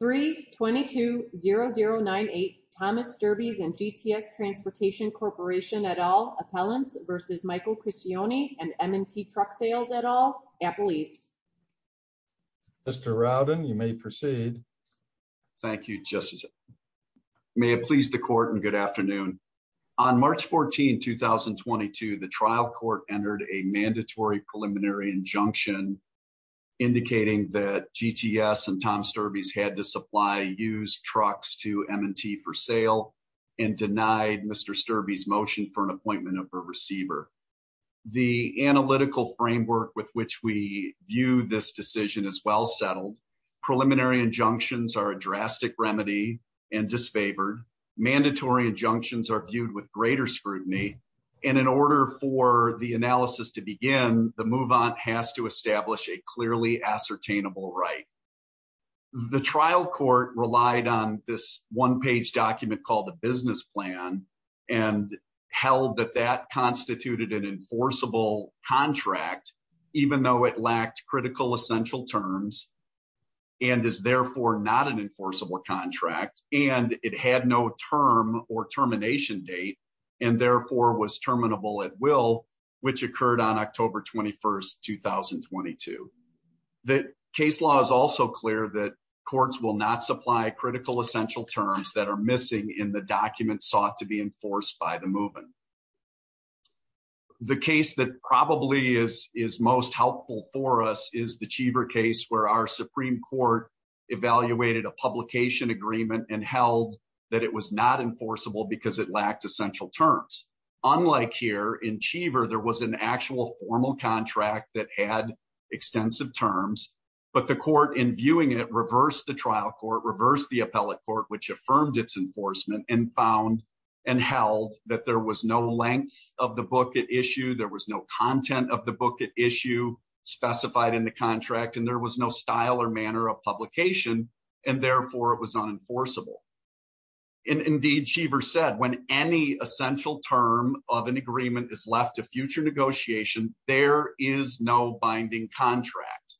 v. Michael Criscione & M&T Truck Sales at All, Apple East Mr. Rowden, you may proceed. Thank you, Justice. May it please the Court and good afternoon. On March 14, 2022, the trial court entered a mandatory preliminary injunction indicating that GTS and Tom Sturbys had to supply used trucks to M&T for sale and denied Mr. Sturbys' motion for an appointment of a receiver. The analytical framework with which we view this decision is well settled. Preliminary injunctions are a drastic remedy and disfavored. Mandatory injunctions are viewed with greater scrutiny. In order for the analysis to begin, the move-on has to establish a clearly ascertainable right. The trial court relied on this one-page document called a business plan and held that that constituted an enforceable contract, even though it lacked critical essential terms and is therefore not an enforceable contract and it had no term or termination date and therefore was terminable at will, which occurred on October 21, 2022. The case law is also clear that courts will not supply critical essential terms that are missing in the documents sought to be enforced by the move-on. The case that probably is most helpful for us is the Cheever case, where our Supreme Court evaluated a publication agreement and held that it was not enforceable because it lacked essential terms. Unlike here, in Cheever, there was an actual formal contract that had extensive terms, but the court in viewing it reversed the trial court, reversed the appellate court, which affirmed its enforcement and found and held that there was no length of the book at issue, there was no content of the book at issue specified in the contract, and there was no style or manner of publication and therefore it was unenforceable. Indeed, Cheever said, when any essential term of an agreement is left to future negotiation, there is no binding contract.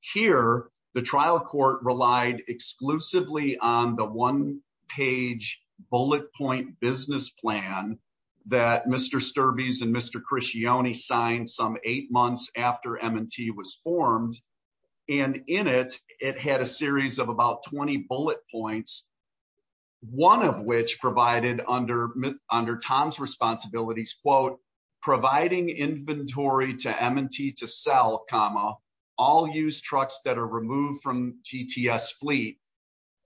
Here, the trial court relied exclusively on the one-page bullet point business plan that Mr. Sturbys and Mr. Criscione signed some eight months after M&T was formed. In it, it had a series of about 20 bullet points, one of which provided under Tom's responsibilities, quote, providing inventory to M&T to sell, comma, all used trucks that are removed from GTS fleet.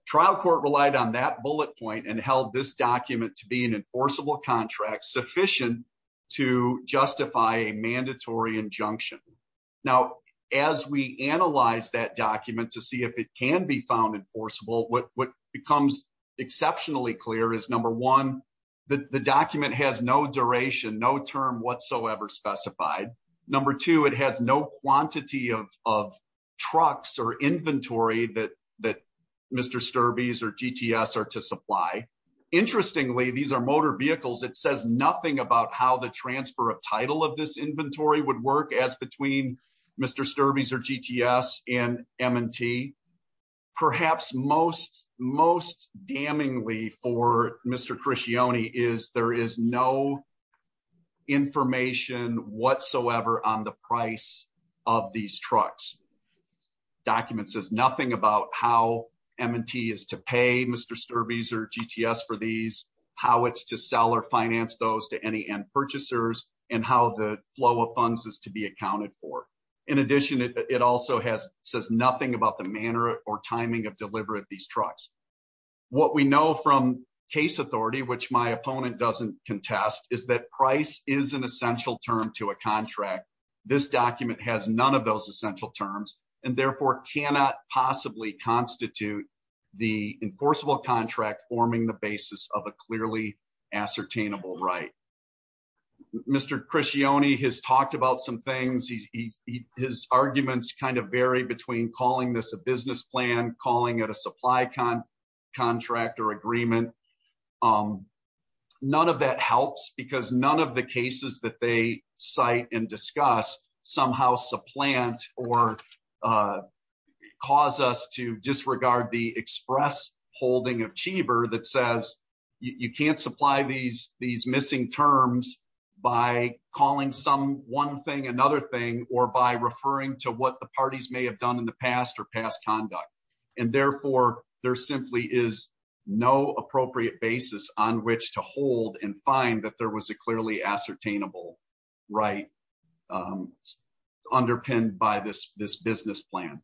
Trial court relied on that bullet point and held this document to be an enforceable contract sufficient to justify a mandatory injunction. Now, as we analyze that document to see if it can be found enforceable, what becomes exceptionally clear is, number one, the document has no duration, no term whatsoever specified. Number two, it has no quantity of trucks or inventory that Mr. Sturbys or GTS are to supply. Interestingly, these are motor vehicles, it says nothing about how the transfer of title of this as between Mr. Sturbys or GTS and M&T. Perhaps most damningly for Mr. Criscione is there is no information whatsoever on the price of these trucks. Document says nothing about how M&T is to pay Mr. Sturbys or GTS for these, how it's to sell or finance those to any end purchasers, and how the flow of funds is to be accounted for. In addition, it also has says nothing about the manner or timing of delivery of these trucks. What we know from case authority, which my opponent doesn't contest, is that price is an essential term to a contract. This document has none of those essential terms and therefore cannot possibly constitute the enforceable contract forming the basis of a clearly ascertainable right. Mr. Criscione has talked about some things, his arguments kind of vary between calling this a business plan, calling it a supply contract or agreement. None of that helps because none of the cases that they cite and discuss somehow supplant or cause us to disregard the express holding of Cheever that says you can't supply these missing terms by calling some one thing another thing or by referring to what the parties may have done in the past or past conduct. And therefore, there simply is no appropriate basis on which to hold and find that there was a clearly ascertainable right. Underpinned by this this business plan.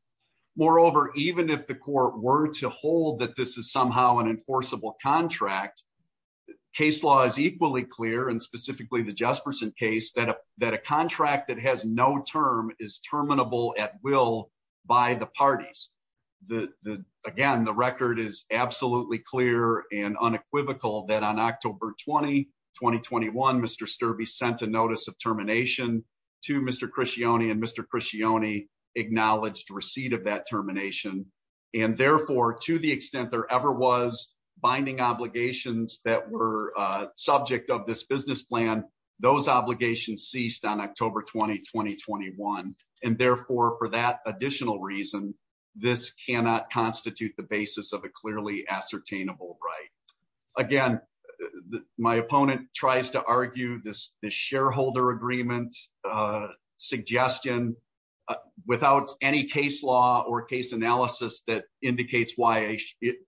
Moreover, even if the court were to hold that this is somehow an enforceable contract, case law is equally clear and specifically the Jesperson case that that a contract that has no term is terminable at will by the parties. The again, the record is absolutely clear and unequivocal that on October 2021, Mr. Sturbey sent a notice of termination to Mr. Criscione and Mr. Criscione acknowledged receipt of that termination. And therefore, to the extent there ever was binding obligations that were subject of this business plan, those obligations ceased on October 2021. And therefore, for that additional reason, this cannot constitute the basis of a clearly ascertainable right. Again, my opponent tries to argue this shareholder agreement suggestion without any case law or case analysis that indicates why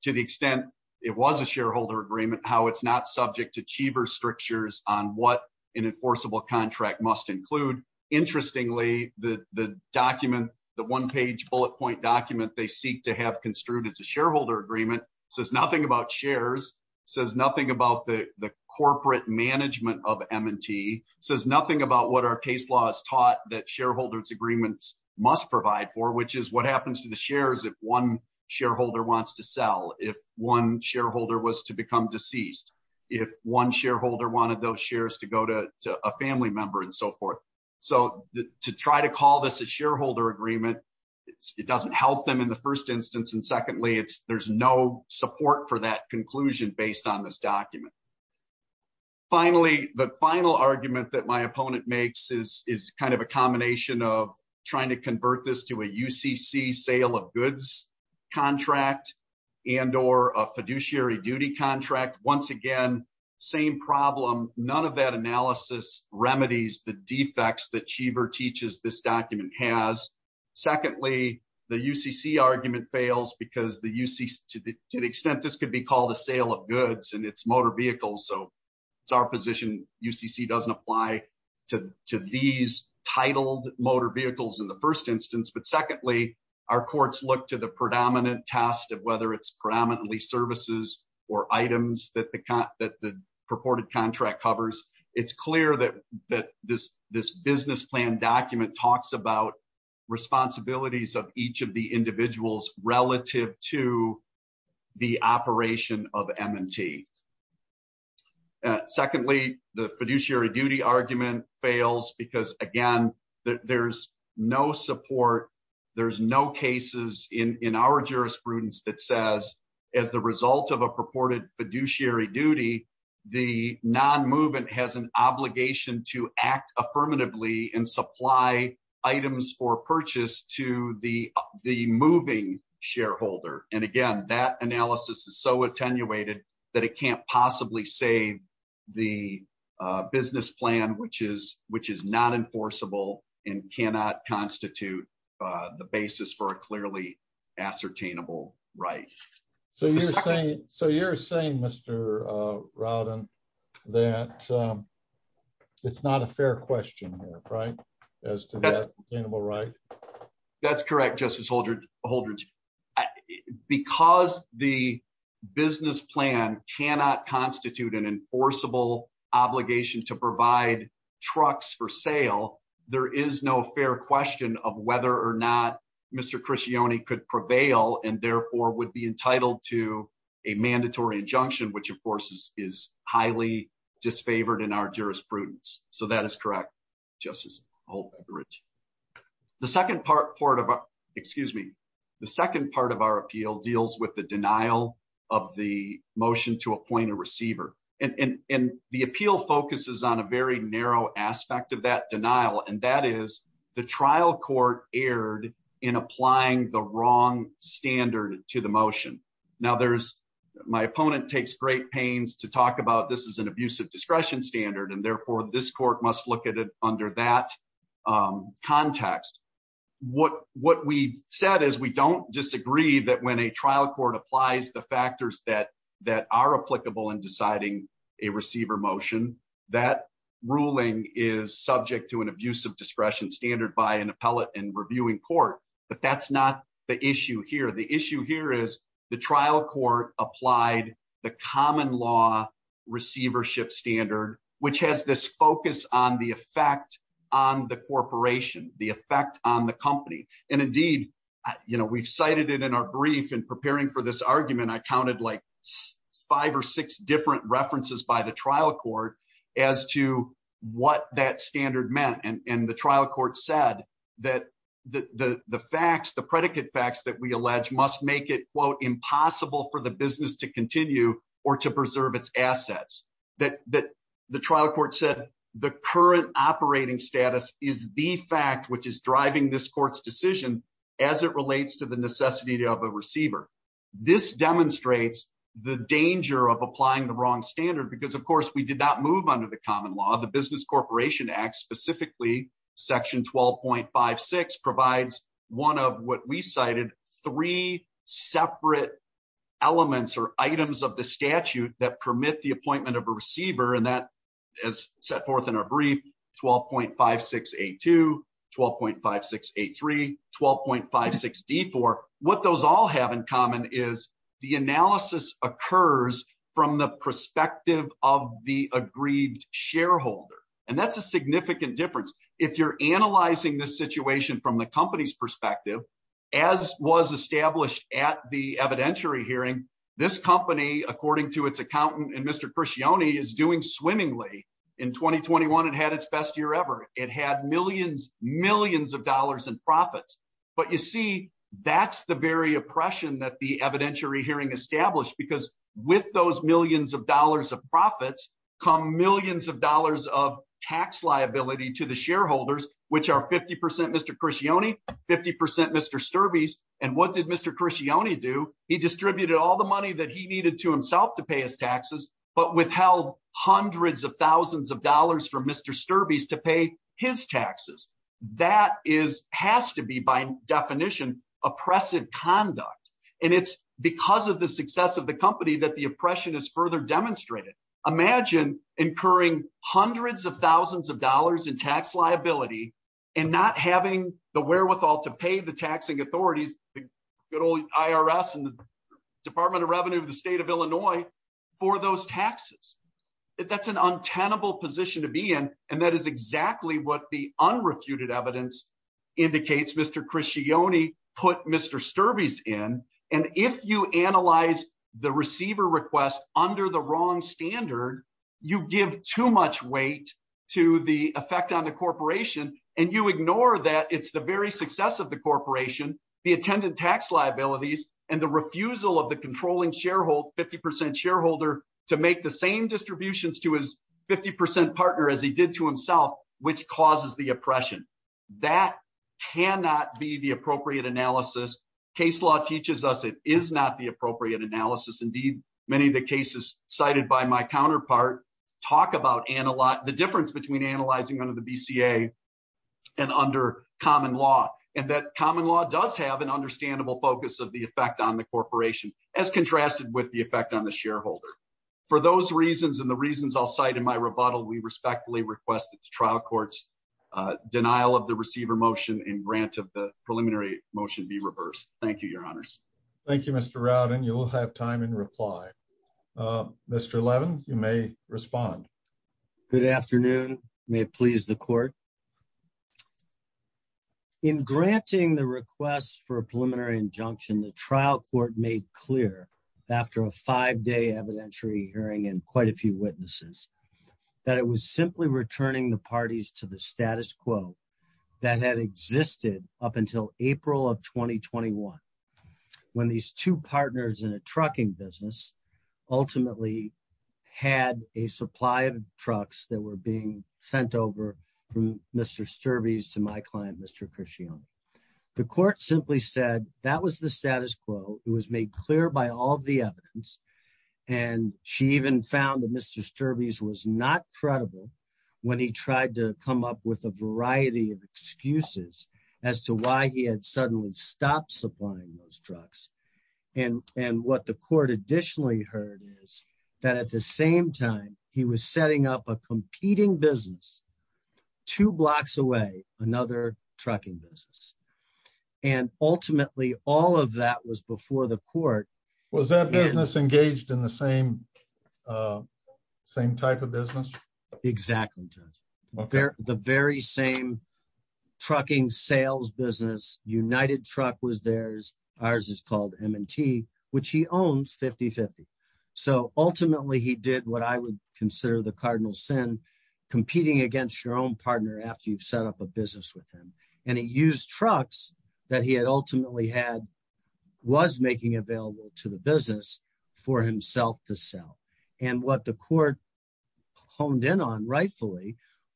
to the extent it was a shareholder agreement, how it's not subject to chiever strictures on what an enforceable contract must include. Interestingly, the document, the one page bullet point document they seek to have construed as a shareholder agreement says nothing about shares, says nothing about the corporate management of M&T, says nothing about what our case law has taught that shareholders agreements must provide for, which is what happens to the shares if one shareholder wants to sell, if one shareholder was to become deceased, if one shareholder wanted those shares to go to a family member and so forth. So to try to call this a shareholder agreement, it doesn't help them in the first instance. And secondly, there's no support for that conclusion based on this document. Finally, the final argument that my opponent makes is kind of a combination of trying to convert this to a UCC sale of goods contract and or a fiduciary duty contract. Once again, same problem, none of that analysis remedies the defects that chiever teaches this document has. Secondly, the UCC argument fails because to the extent this could be called a sale of goods and it's motor vehicles. So it's our position, UCC doesn't apply to these titled motor vehicles in the first instance. But secondly, our courts look to the predominant test of whether it's predominantly services or items that the purported contract covers. It's clear that this business plan document talks about responsibilities of each of the individuals relative to the operation of MNT. Secondly, the fiduciary duty argument fails because again, there's no support. There's no cases in our jurisprudence that says, as the result of a purported fiduciary duty, the non to act affirmatively and supply items for purchase to the moving shareholder. And again, that analysis is so attenuated that it can't possibly save the business plan which is not enforceable and cannot constitute the basis for a clearly ascertainable right. So you're saying so you're saying Mr. Rowden, that it's not a fair question, right? As to that animal, right? That's correct, Justice Holdren. Because the business plan cannot constitute an enforceable obligation to provide trucks for sale. There is no fair question of whether or not Mr. Christiani could prevail and therefore would be entitled to a mandatory injunction, which of course is highly disfavored in our jurisprudence. So that is correct, Justice Holdren. The second part of our, excuse me, the second part of our appeal deals with the denial of the motion to appoint a receiver. And the appeal focuses on a very narrow aspect of that applying the wrong standard to the motion. Now there's, my opponent takes great pains to talk about this as an abusive discretion standard, and therefore this court must look at it under that context. What we've said is we don't disagree that when a trial court applies the factors that that are applicable in deciding a receiver motion, that ruling is subject to an abusive discretion standard by an appellate in reviewing court. But that's not the issue here. The issue here is the trial court applied the common law receivership standard, which has this focus on the effect on the corporation, the effect on the company. And indeed, you know, we've cited it in our brief in preparing for this argument. I counted like five or six different references by the trial court as to what that standard meant. And the trial court said that the facts, the predicate facts that we allege must make it, quote, impossible for the business to continue or to preserve its assets. That the trial court said the current operating status is the fact which is driving this court's decision as it relates to the necessity of a receiver. This demonstrates the danger of applying the wrong standard, because of course we did not move under the common law. The Business Corporation Act, specifically section 12.56, provides one of what we cited three separate elements or items of the statute that permit the appointment of a receiver. And that is set forth in our brief 12.5682, 12.5683, 12.56D4. What those all have in common is the analysis occurs from the perspective of the aggrieved shareholder. And that's a significant difference. If you're analyzing this situation from the company's perspective, as was established at the evidentiary hearing, this company, according to its accountant and Mr. Crescione, is doing swimmingly. In 2021, it had its best year ever. It had millions, millions of dollars in profits. But you see, that's the very oppression that the evidentiary hearing established. Because with those millions of dollars of profits come millions of dollars of tax liability to the shareholders, which are 50% Mr. Crescione, 50% Mr. Sturbys. And what did Mr. Crescione do? He distributed all the money that he needed to himself to pay his taxes, but withheld hundreds of thousands of dollars for Mr. Sturbys to pay his taxes. That has to be, by definition, oppressive conduct. And it's because of the success of the company that the oppression is further demonstrated. Imagine incurring hundreds of thousands of dollars in tax liability and not having the wherewithal to pay the taxing authorities, the good old IRS and Department of Revenue of the state of Illinois, for those taxes. That's an untenable position to be in. And that is exactly what the unrefuted evidence indicates Mr. Crescione put Mr. Sturbys in. And if you analyze the receiver request under the wrong standard, you give too much weight to the effect on the corporation. And you ignore that it's the very success of the corporation, the attendant tax liabilities, and the refusal of the controlling 50% shareholder to make the same distributions to his 50% partner as he did to himself, which causes the oppression. That cannot be the appropriate analysis. Case law teaches us it is not the appropriate analysis. Indeed, many of the cases cited by my counterpart talk about the difference between analyzing under BCA and under common law, and that common law does have an understandable focus of the effect on the corporation as contrasted with the effect on the shareholder. For those reasons, and the reasons I'll cite in my rebuttal, we respectfully request that the trial courts, uh, denial of the receiver motion and grant of the preliminary motion be reversed. Thank you, your honors. Thank you, Mr. Robin. You will have time in reply. Uh, Mr. Levin, you may respond. Good afternoon. May it please the court. In granting the request for a preliminary injunction, the trial court made clear after a five-day evidentiary hearing and quite a few witnesses that it was simply returning the parties to the status quo that had existed up until April of 2021, when these two partners in a trucking business ultimately had a supply of trucks that were being sent over from Mr. Sturbey's to my client, Mr. Cresciano. The court simply said that was the status quo. It was made clear by all of the evidence. And she even found that Mr. Sturbey's was not credible when he tried to come up with a variety of excuses as to why he had suddenly stopped supplying those trucks. And, and what the court additionally heard is that at the same time, he was setting up a competing business two blocks away, another trucking business. And ultimately all of that was before the court. Was that business engaged in the same, uh, same type of business? Exactly, Judge. The very same trucking sales business, United Truck was theirs. Ours is called M&T, which he owns 50-50. So ultimately he did what I would consider the cardinal sin, competing against your own partner after you've set up a business with him. And he used trucks that he had ultimately had was making available to the business for himself to sell. And what the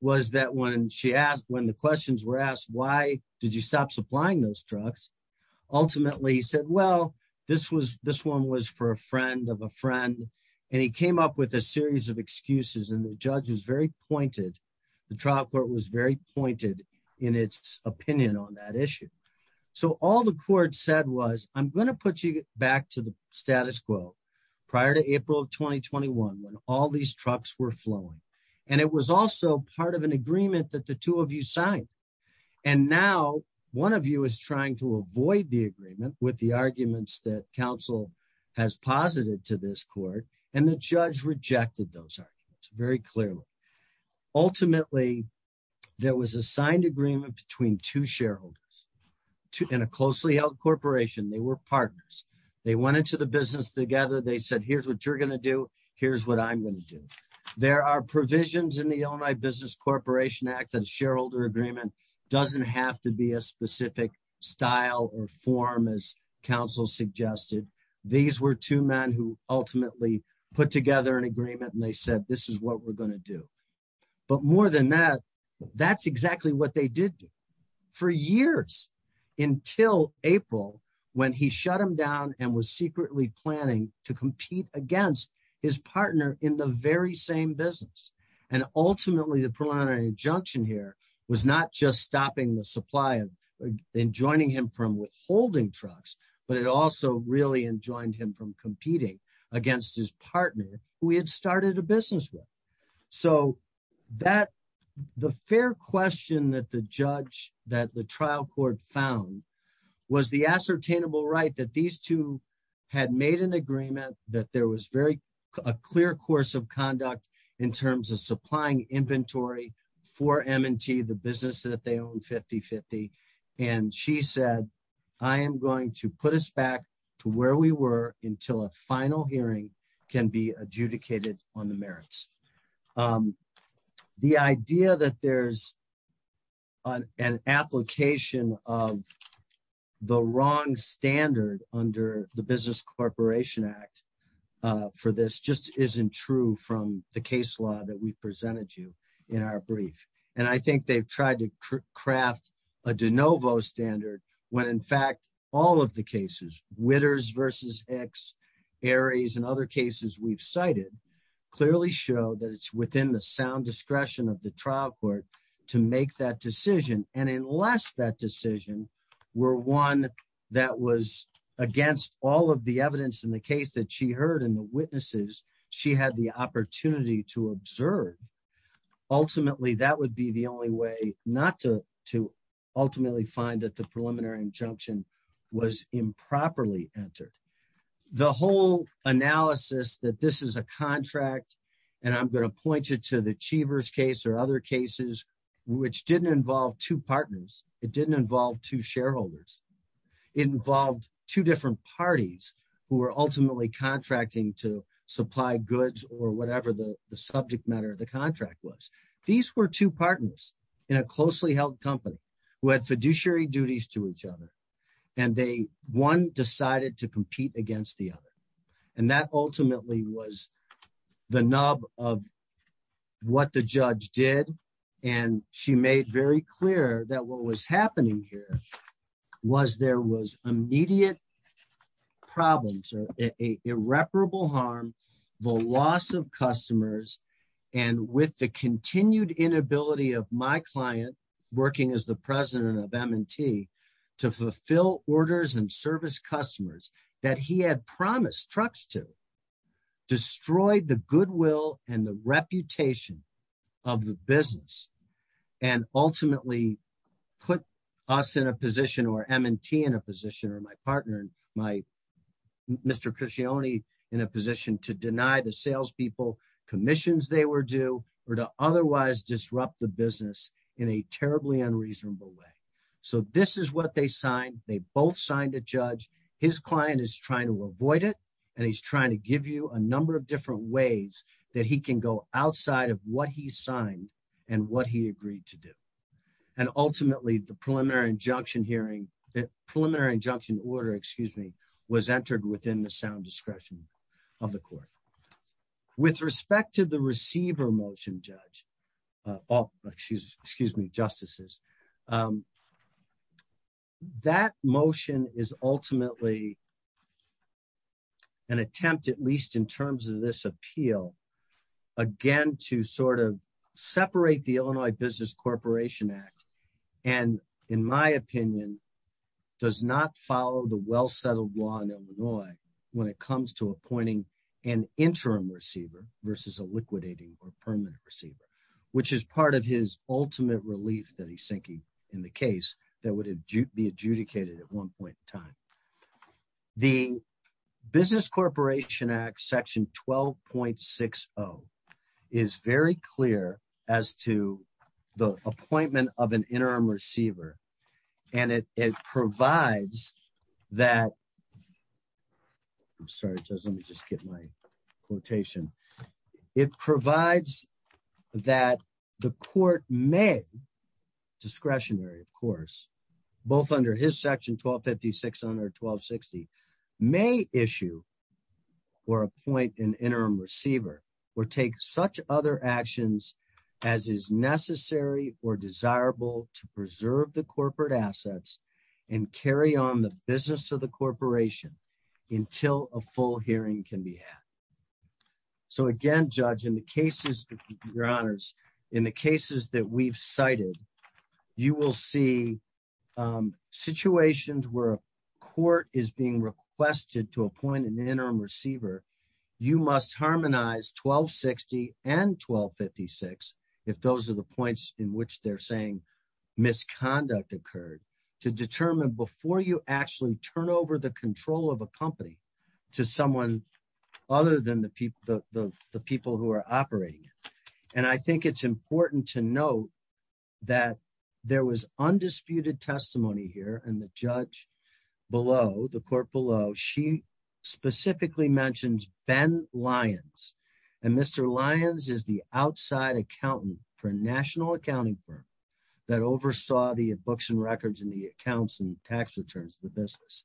was that when she asked, when the questions were asked, why did you stop supplying those trucks? Ultimately said, well, this was, this one was for a friend of a friend and he came up with a series of excuses. And the judge was very pointed. The trial court was very pointed in its opinion on that issue. So all the court said was, I'm going to put you back to the status quo prior to April 2021, when all these trucks were flowing. And it was also part of an agreement that the two of you signed. And now one of you is trying to avoid the agreement with the arguments that council has posited to this court. And the judge rejected those arguments very clearly. Ultimately, there was a signed agreement between two shareholders in a closely held corporation. They were partners. They went into the business together. They said, here's what you're going to do. Here's what I'm going to do. There are provisions in the Illinois Business Corporation Act that a shareholder agreement doesn't have to be a specific style or form as council suggested. These were two men who ultimately put together an agreement and they said, this is what we're going to do. But more than that, that's exactly what they did for years until April, when he shut him down and was secretly planning to compete against his partner in the very same business. And ultimately, the preliminary injunction here was not just stopping the supply and joining him from withholding trucks, but it also really enjoined him from competing against his partner, who he had started a business with. So that the fair question that the judge, that the trial court found was the ascertainable right that these two had made an agreement that there was very clear course of conduct in terms of supplying inventory for M&T, the business that they own 50-50. And she said, I am going to put us back to where we were until a final hearing can be adjudicated on the merits. The idea that there's an application of the wrong standard under the Business Corporation Act for this just isn't true from the case law that we presented you in our brief. And I think they've tried to craft a de novo standard when in fact, all of the cases, Witters v. Hicks, Aries, and other cases we've cited, clearly show that it's within the sound discretion of the trial court to make that decision. And unless that decision were one that was against all of the evidence in the case that she heard and the witnesses she had the opportunity to observe, ultimately, that would be the only way not to ultimately find that the preliminary injunction was improperly entered. The whole analysis that this is a contract, and I'm going to point you to the Cheever's case or other cases, which didn't involve two partners. It didn't involve two shareholders. It involved two different parties who were ultimately contracting to supply goods or whatever the subject matter of contract was. These were two partners in a closely held company who had fiduciary duties to each other. And one decided to compete against the other. And that ultimately was the nub of what the judge did. And she made very clear that what was happening here was there was immediate problems, irreparable harm, the loss of customers, and with the continued inability of my client, working as the president of M&T, to fulfill orders and service customers that he had promised trucks to, destroyed the goodwill and the reputation of the business, and ultimately put us in a position or M&T in a position or my partner, Mr. Cuscione, in a position to deny the salespeople commissions they were due, or to otherwise disrupt the business in a terribly unreasonable way. So this is what they signed. They both signed a judge. His client is trying to avoid it. And he's trying to give you a number of ways that he can go outside of what he signed and what he agreed to do. And ultimately, the preliminary injunction hearing, the preliminary injunction order, excuse me, was entered within the sound discretion of the court. With respect to the receiver motion, judge, excuse me, justices, that motion is ultimately an attempt, at least in terms of this appeal, again, to sort of separate the Illinois Business Corporation Act, and in my opinion, does not follow the well settled law in Illinois, when it comes to appointing an interim receiver versus a liquidating or permanent receiver, which is part of his ultimate relief that he's thinking in the case that would be adjudicated at one point in time. The Business Corporation Act section 12.60 is very clear as to the appointment of an interim receiver. And it provides that, I'm sorry, let me just get my 12.50, 612.60 may issue or appoint an interim receiver or take such other actions as is necessary or desirable to preserve the corporate assets and carry on the business of the corporation until a full hearing can be had. So again, judge, in the cases, your honors, in the cases that we've cited, you will see situations where a court is being requested to appoint an interim receiver, you must harmonize 12.60 and 12.56, if those are the points in which they're saying misconduct occurred, to determine before you actually turn over the control of a company to someone other than the people who are operating it. And I think it's important to note that there was undisputed testimony here and the judge below, the court below, she specifically mentioned Ben Lyons. And Mr. Lyons is the outside accountant for a national accounting firm that oversaw the books and records and the accounts and tax returns of the business.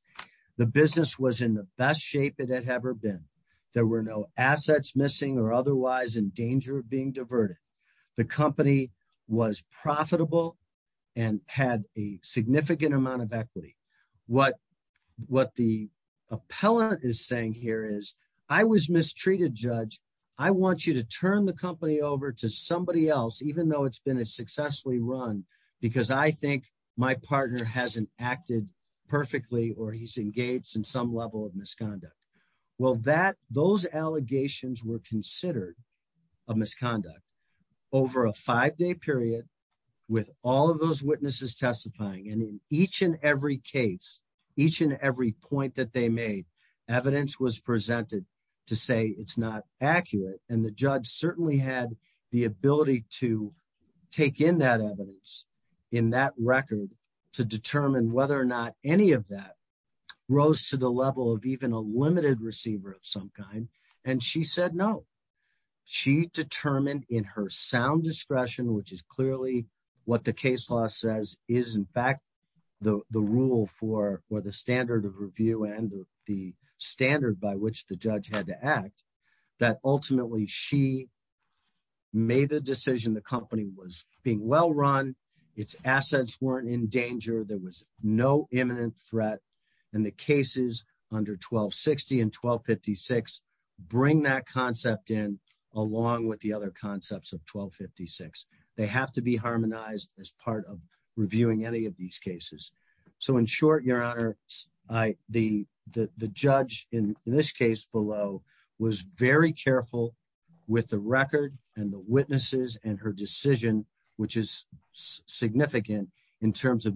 The business was in the best shape it had ever been. There were no assets missing or otherwise in danger of being diverted. The company was profitable and had a significant amount of equity. What the appellant is saying here is, I was mistreated, judge. I want you to turn the company over to somebody else, even though it's been a successfully run, because I think my partner hasn't acted perfectly or he's those allegations were considered a misconduct over a five-day period with all of those witnesses testifying. And in each and every case, each and every point that they made, evidence was presented to say it's not accurate. And the judge certainly had the ability to take in that evidence, in that record, to determine whether or not any of that rose to the level of even a limited receiver of some kind. And she said, no, she determined in her sound discretion, which is clearly what the case law says is in fact, the rule for, or the standard of review and the standard by which the judge had to act, that ultimately she made the decision. The company was being well-run its assets weren't in danger. There was no imminent threat and the cases under 1260 and 1256 bring that concept in along with the other concepts of 1256. They have to be harmonized as part of reviewing any of these cases. So in short, your honor, I, the, the, the judge in this case below was very careful with the record and the witnesses and her decision, which is significant in terms of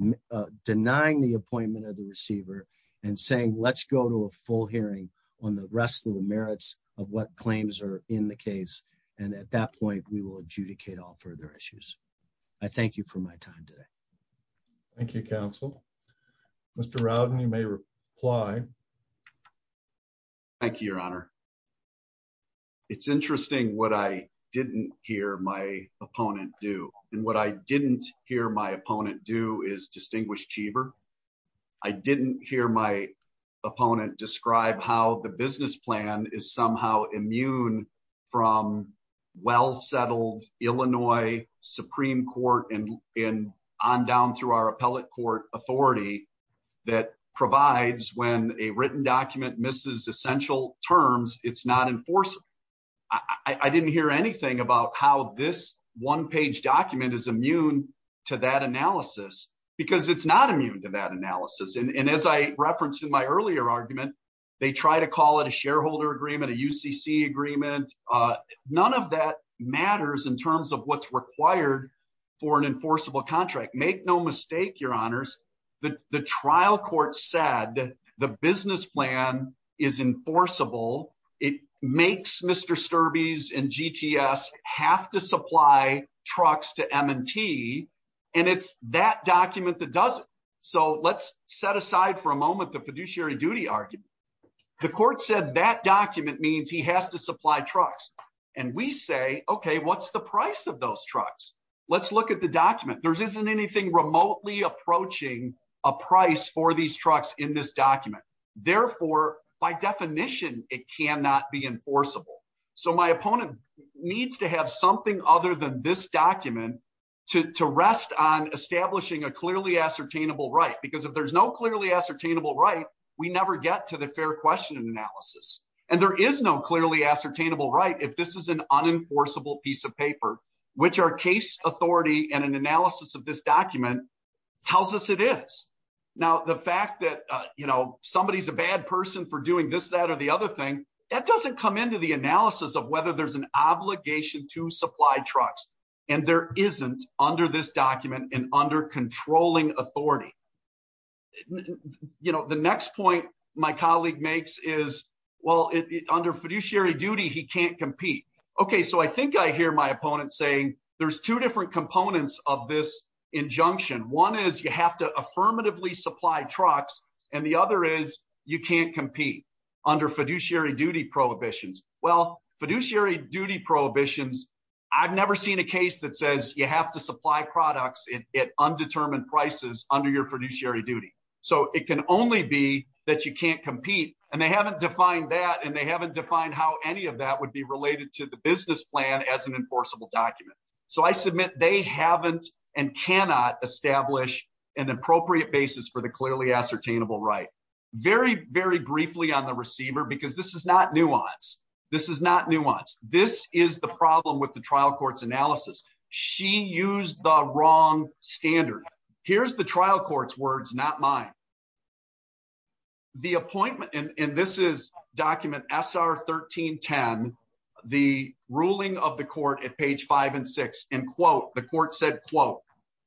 denying the appointment of the receiver and saying, let's go to a full hearing on the rest of the merits of what claims are in the case. And at that point, we will adjudicate all further issues. I thank you for my time today. Thank you counsel, Mr. Rowden, you may reply. Thank you, your honor. It's interesting what I didn't hear my opponent do. And what I didn't hear my opponent do is distinguished Cheever. I didn't hear my opponent describe how the business plan is somehow immune from well-settled Illinois Supreme court and in on down through our appellate court authority that provides when a written document misses essential terms, it's not enforceable. I didn't hear anything about how this one page document is immune to that analysis because it's not immune to that analysis. And as I referenced in my earlier argument, they try to call it a shareholder agreement, a UCC agreement. None of that matters in terms of what's required for an enforceable contract. Make no mistake, your honors, the trial court said the business plan is enforceable. It makes Mr. Sturbys and GTS have to supply trucks to M and T and it's that document that does it. So let's set aside for a moment, the fiduciary duty argument. The court said that document means he has to supply trucks. And we say, okay, what's the price of those trucks? Let's look at the document. There's isn't anything remotely approaching a price for these trucks in this document. Therefore, by definition, it cannot be enforceable. So my opponent needs to have something other than this document to rest on establishing a clearly ascertainable right. Because if there's no clearly ascertainable right, we never get to the fair question and analysis. And there is no clearly ascertainable right if this is an enforceable piece of paper, which our case authority and an analysis of this document tells us it is. Now, the fact that somebody's a bad person for doing this, that, or the other thing, that doesn't come into the analysis of whether there's an obligation to supply trucks. And there isn't under this document and under controlling authority. The next point my colleague makes is, well, under fiduciary duty, he can't compete. Okay, so I think I hear my opponent saying there's two different components of this injunction. One is you have to affirmatively supply trucks. And the other is you can't compete under fiduciary duty prohibitions. Well, fiduciary duty prohibitions, I've never seen a case that says you have to supply products at undetermined prices under your fiduciary duty. So it can only be that you can't compete. And they haven't defined that and they haven't defined how any of that would be related to the business plan as an enforceable document. So I submit they haven't and cannot establish an appropriate basis for the clearly ascertainable right. Very, very briefly on the receiver, because this is not nuance. This is not nuance. This is the problem with the trial court's analysis. She used the wrong standard. Here's the trial court's words, not mine. The appointment and this is document SR 1310, the ruling of the court at page five and six and quote, the court said, quote,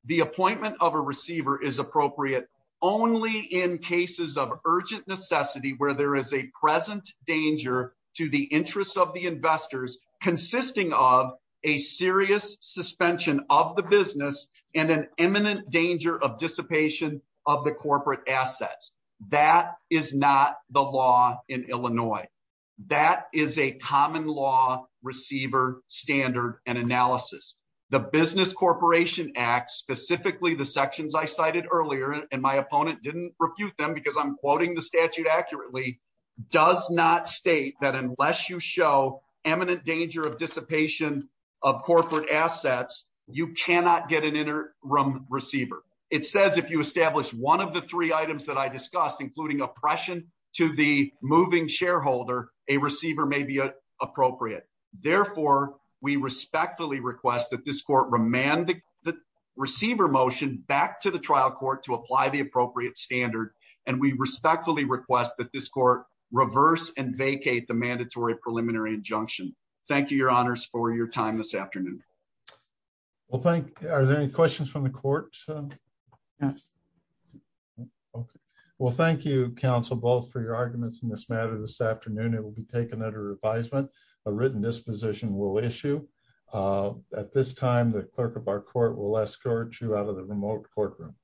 the appointment of a receiver is appropriate only in cases of urgent necessity where there is a present danger to the interests of the investors consisting of a serious suspension of the business and an imminent danger of dissipation of the corporate assets. That is not the law in Illinois. That is a common law receiver standard and analysis. The business corporation act, specifically the sections I cited earlier, and my opponent didn't refute them because I'm quoting the statute accurately, does not state that unless you show eminent danger of dissipation of corporate assets, you cannot get an interim receiver. It says, if you establish one of the three items that I discussed, including oppression to the moving shareholder, a receiver may be appropriate. Therefore, we respectfully request that this court remand the receiver motion back to the trial court to apply the appropriate standard. And we respectfully request that this court reverse and vacate the mandatory preliminary injunction. Thank you, your honors for your time this afternoon. Well, thank you. Are there any questions from the court? Yes. Okay. Well, thank you, counsel, both for your arguments in this matter. This afternoon, it will be taken under advisement, a written disposition will issue. At this time, the clerk of our court will escort you out of the remote courtroom.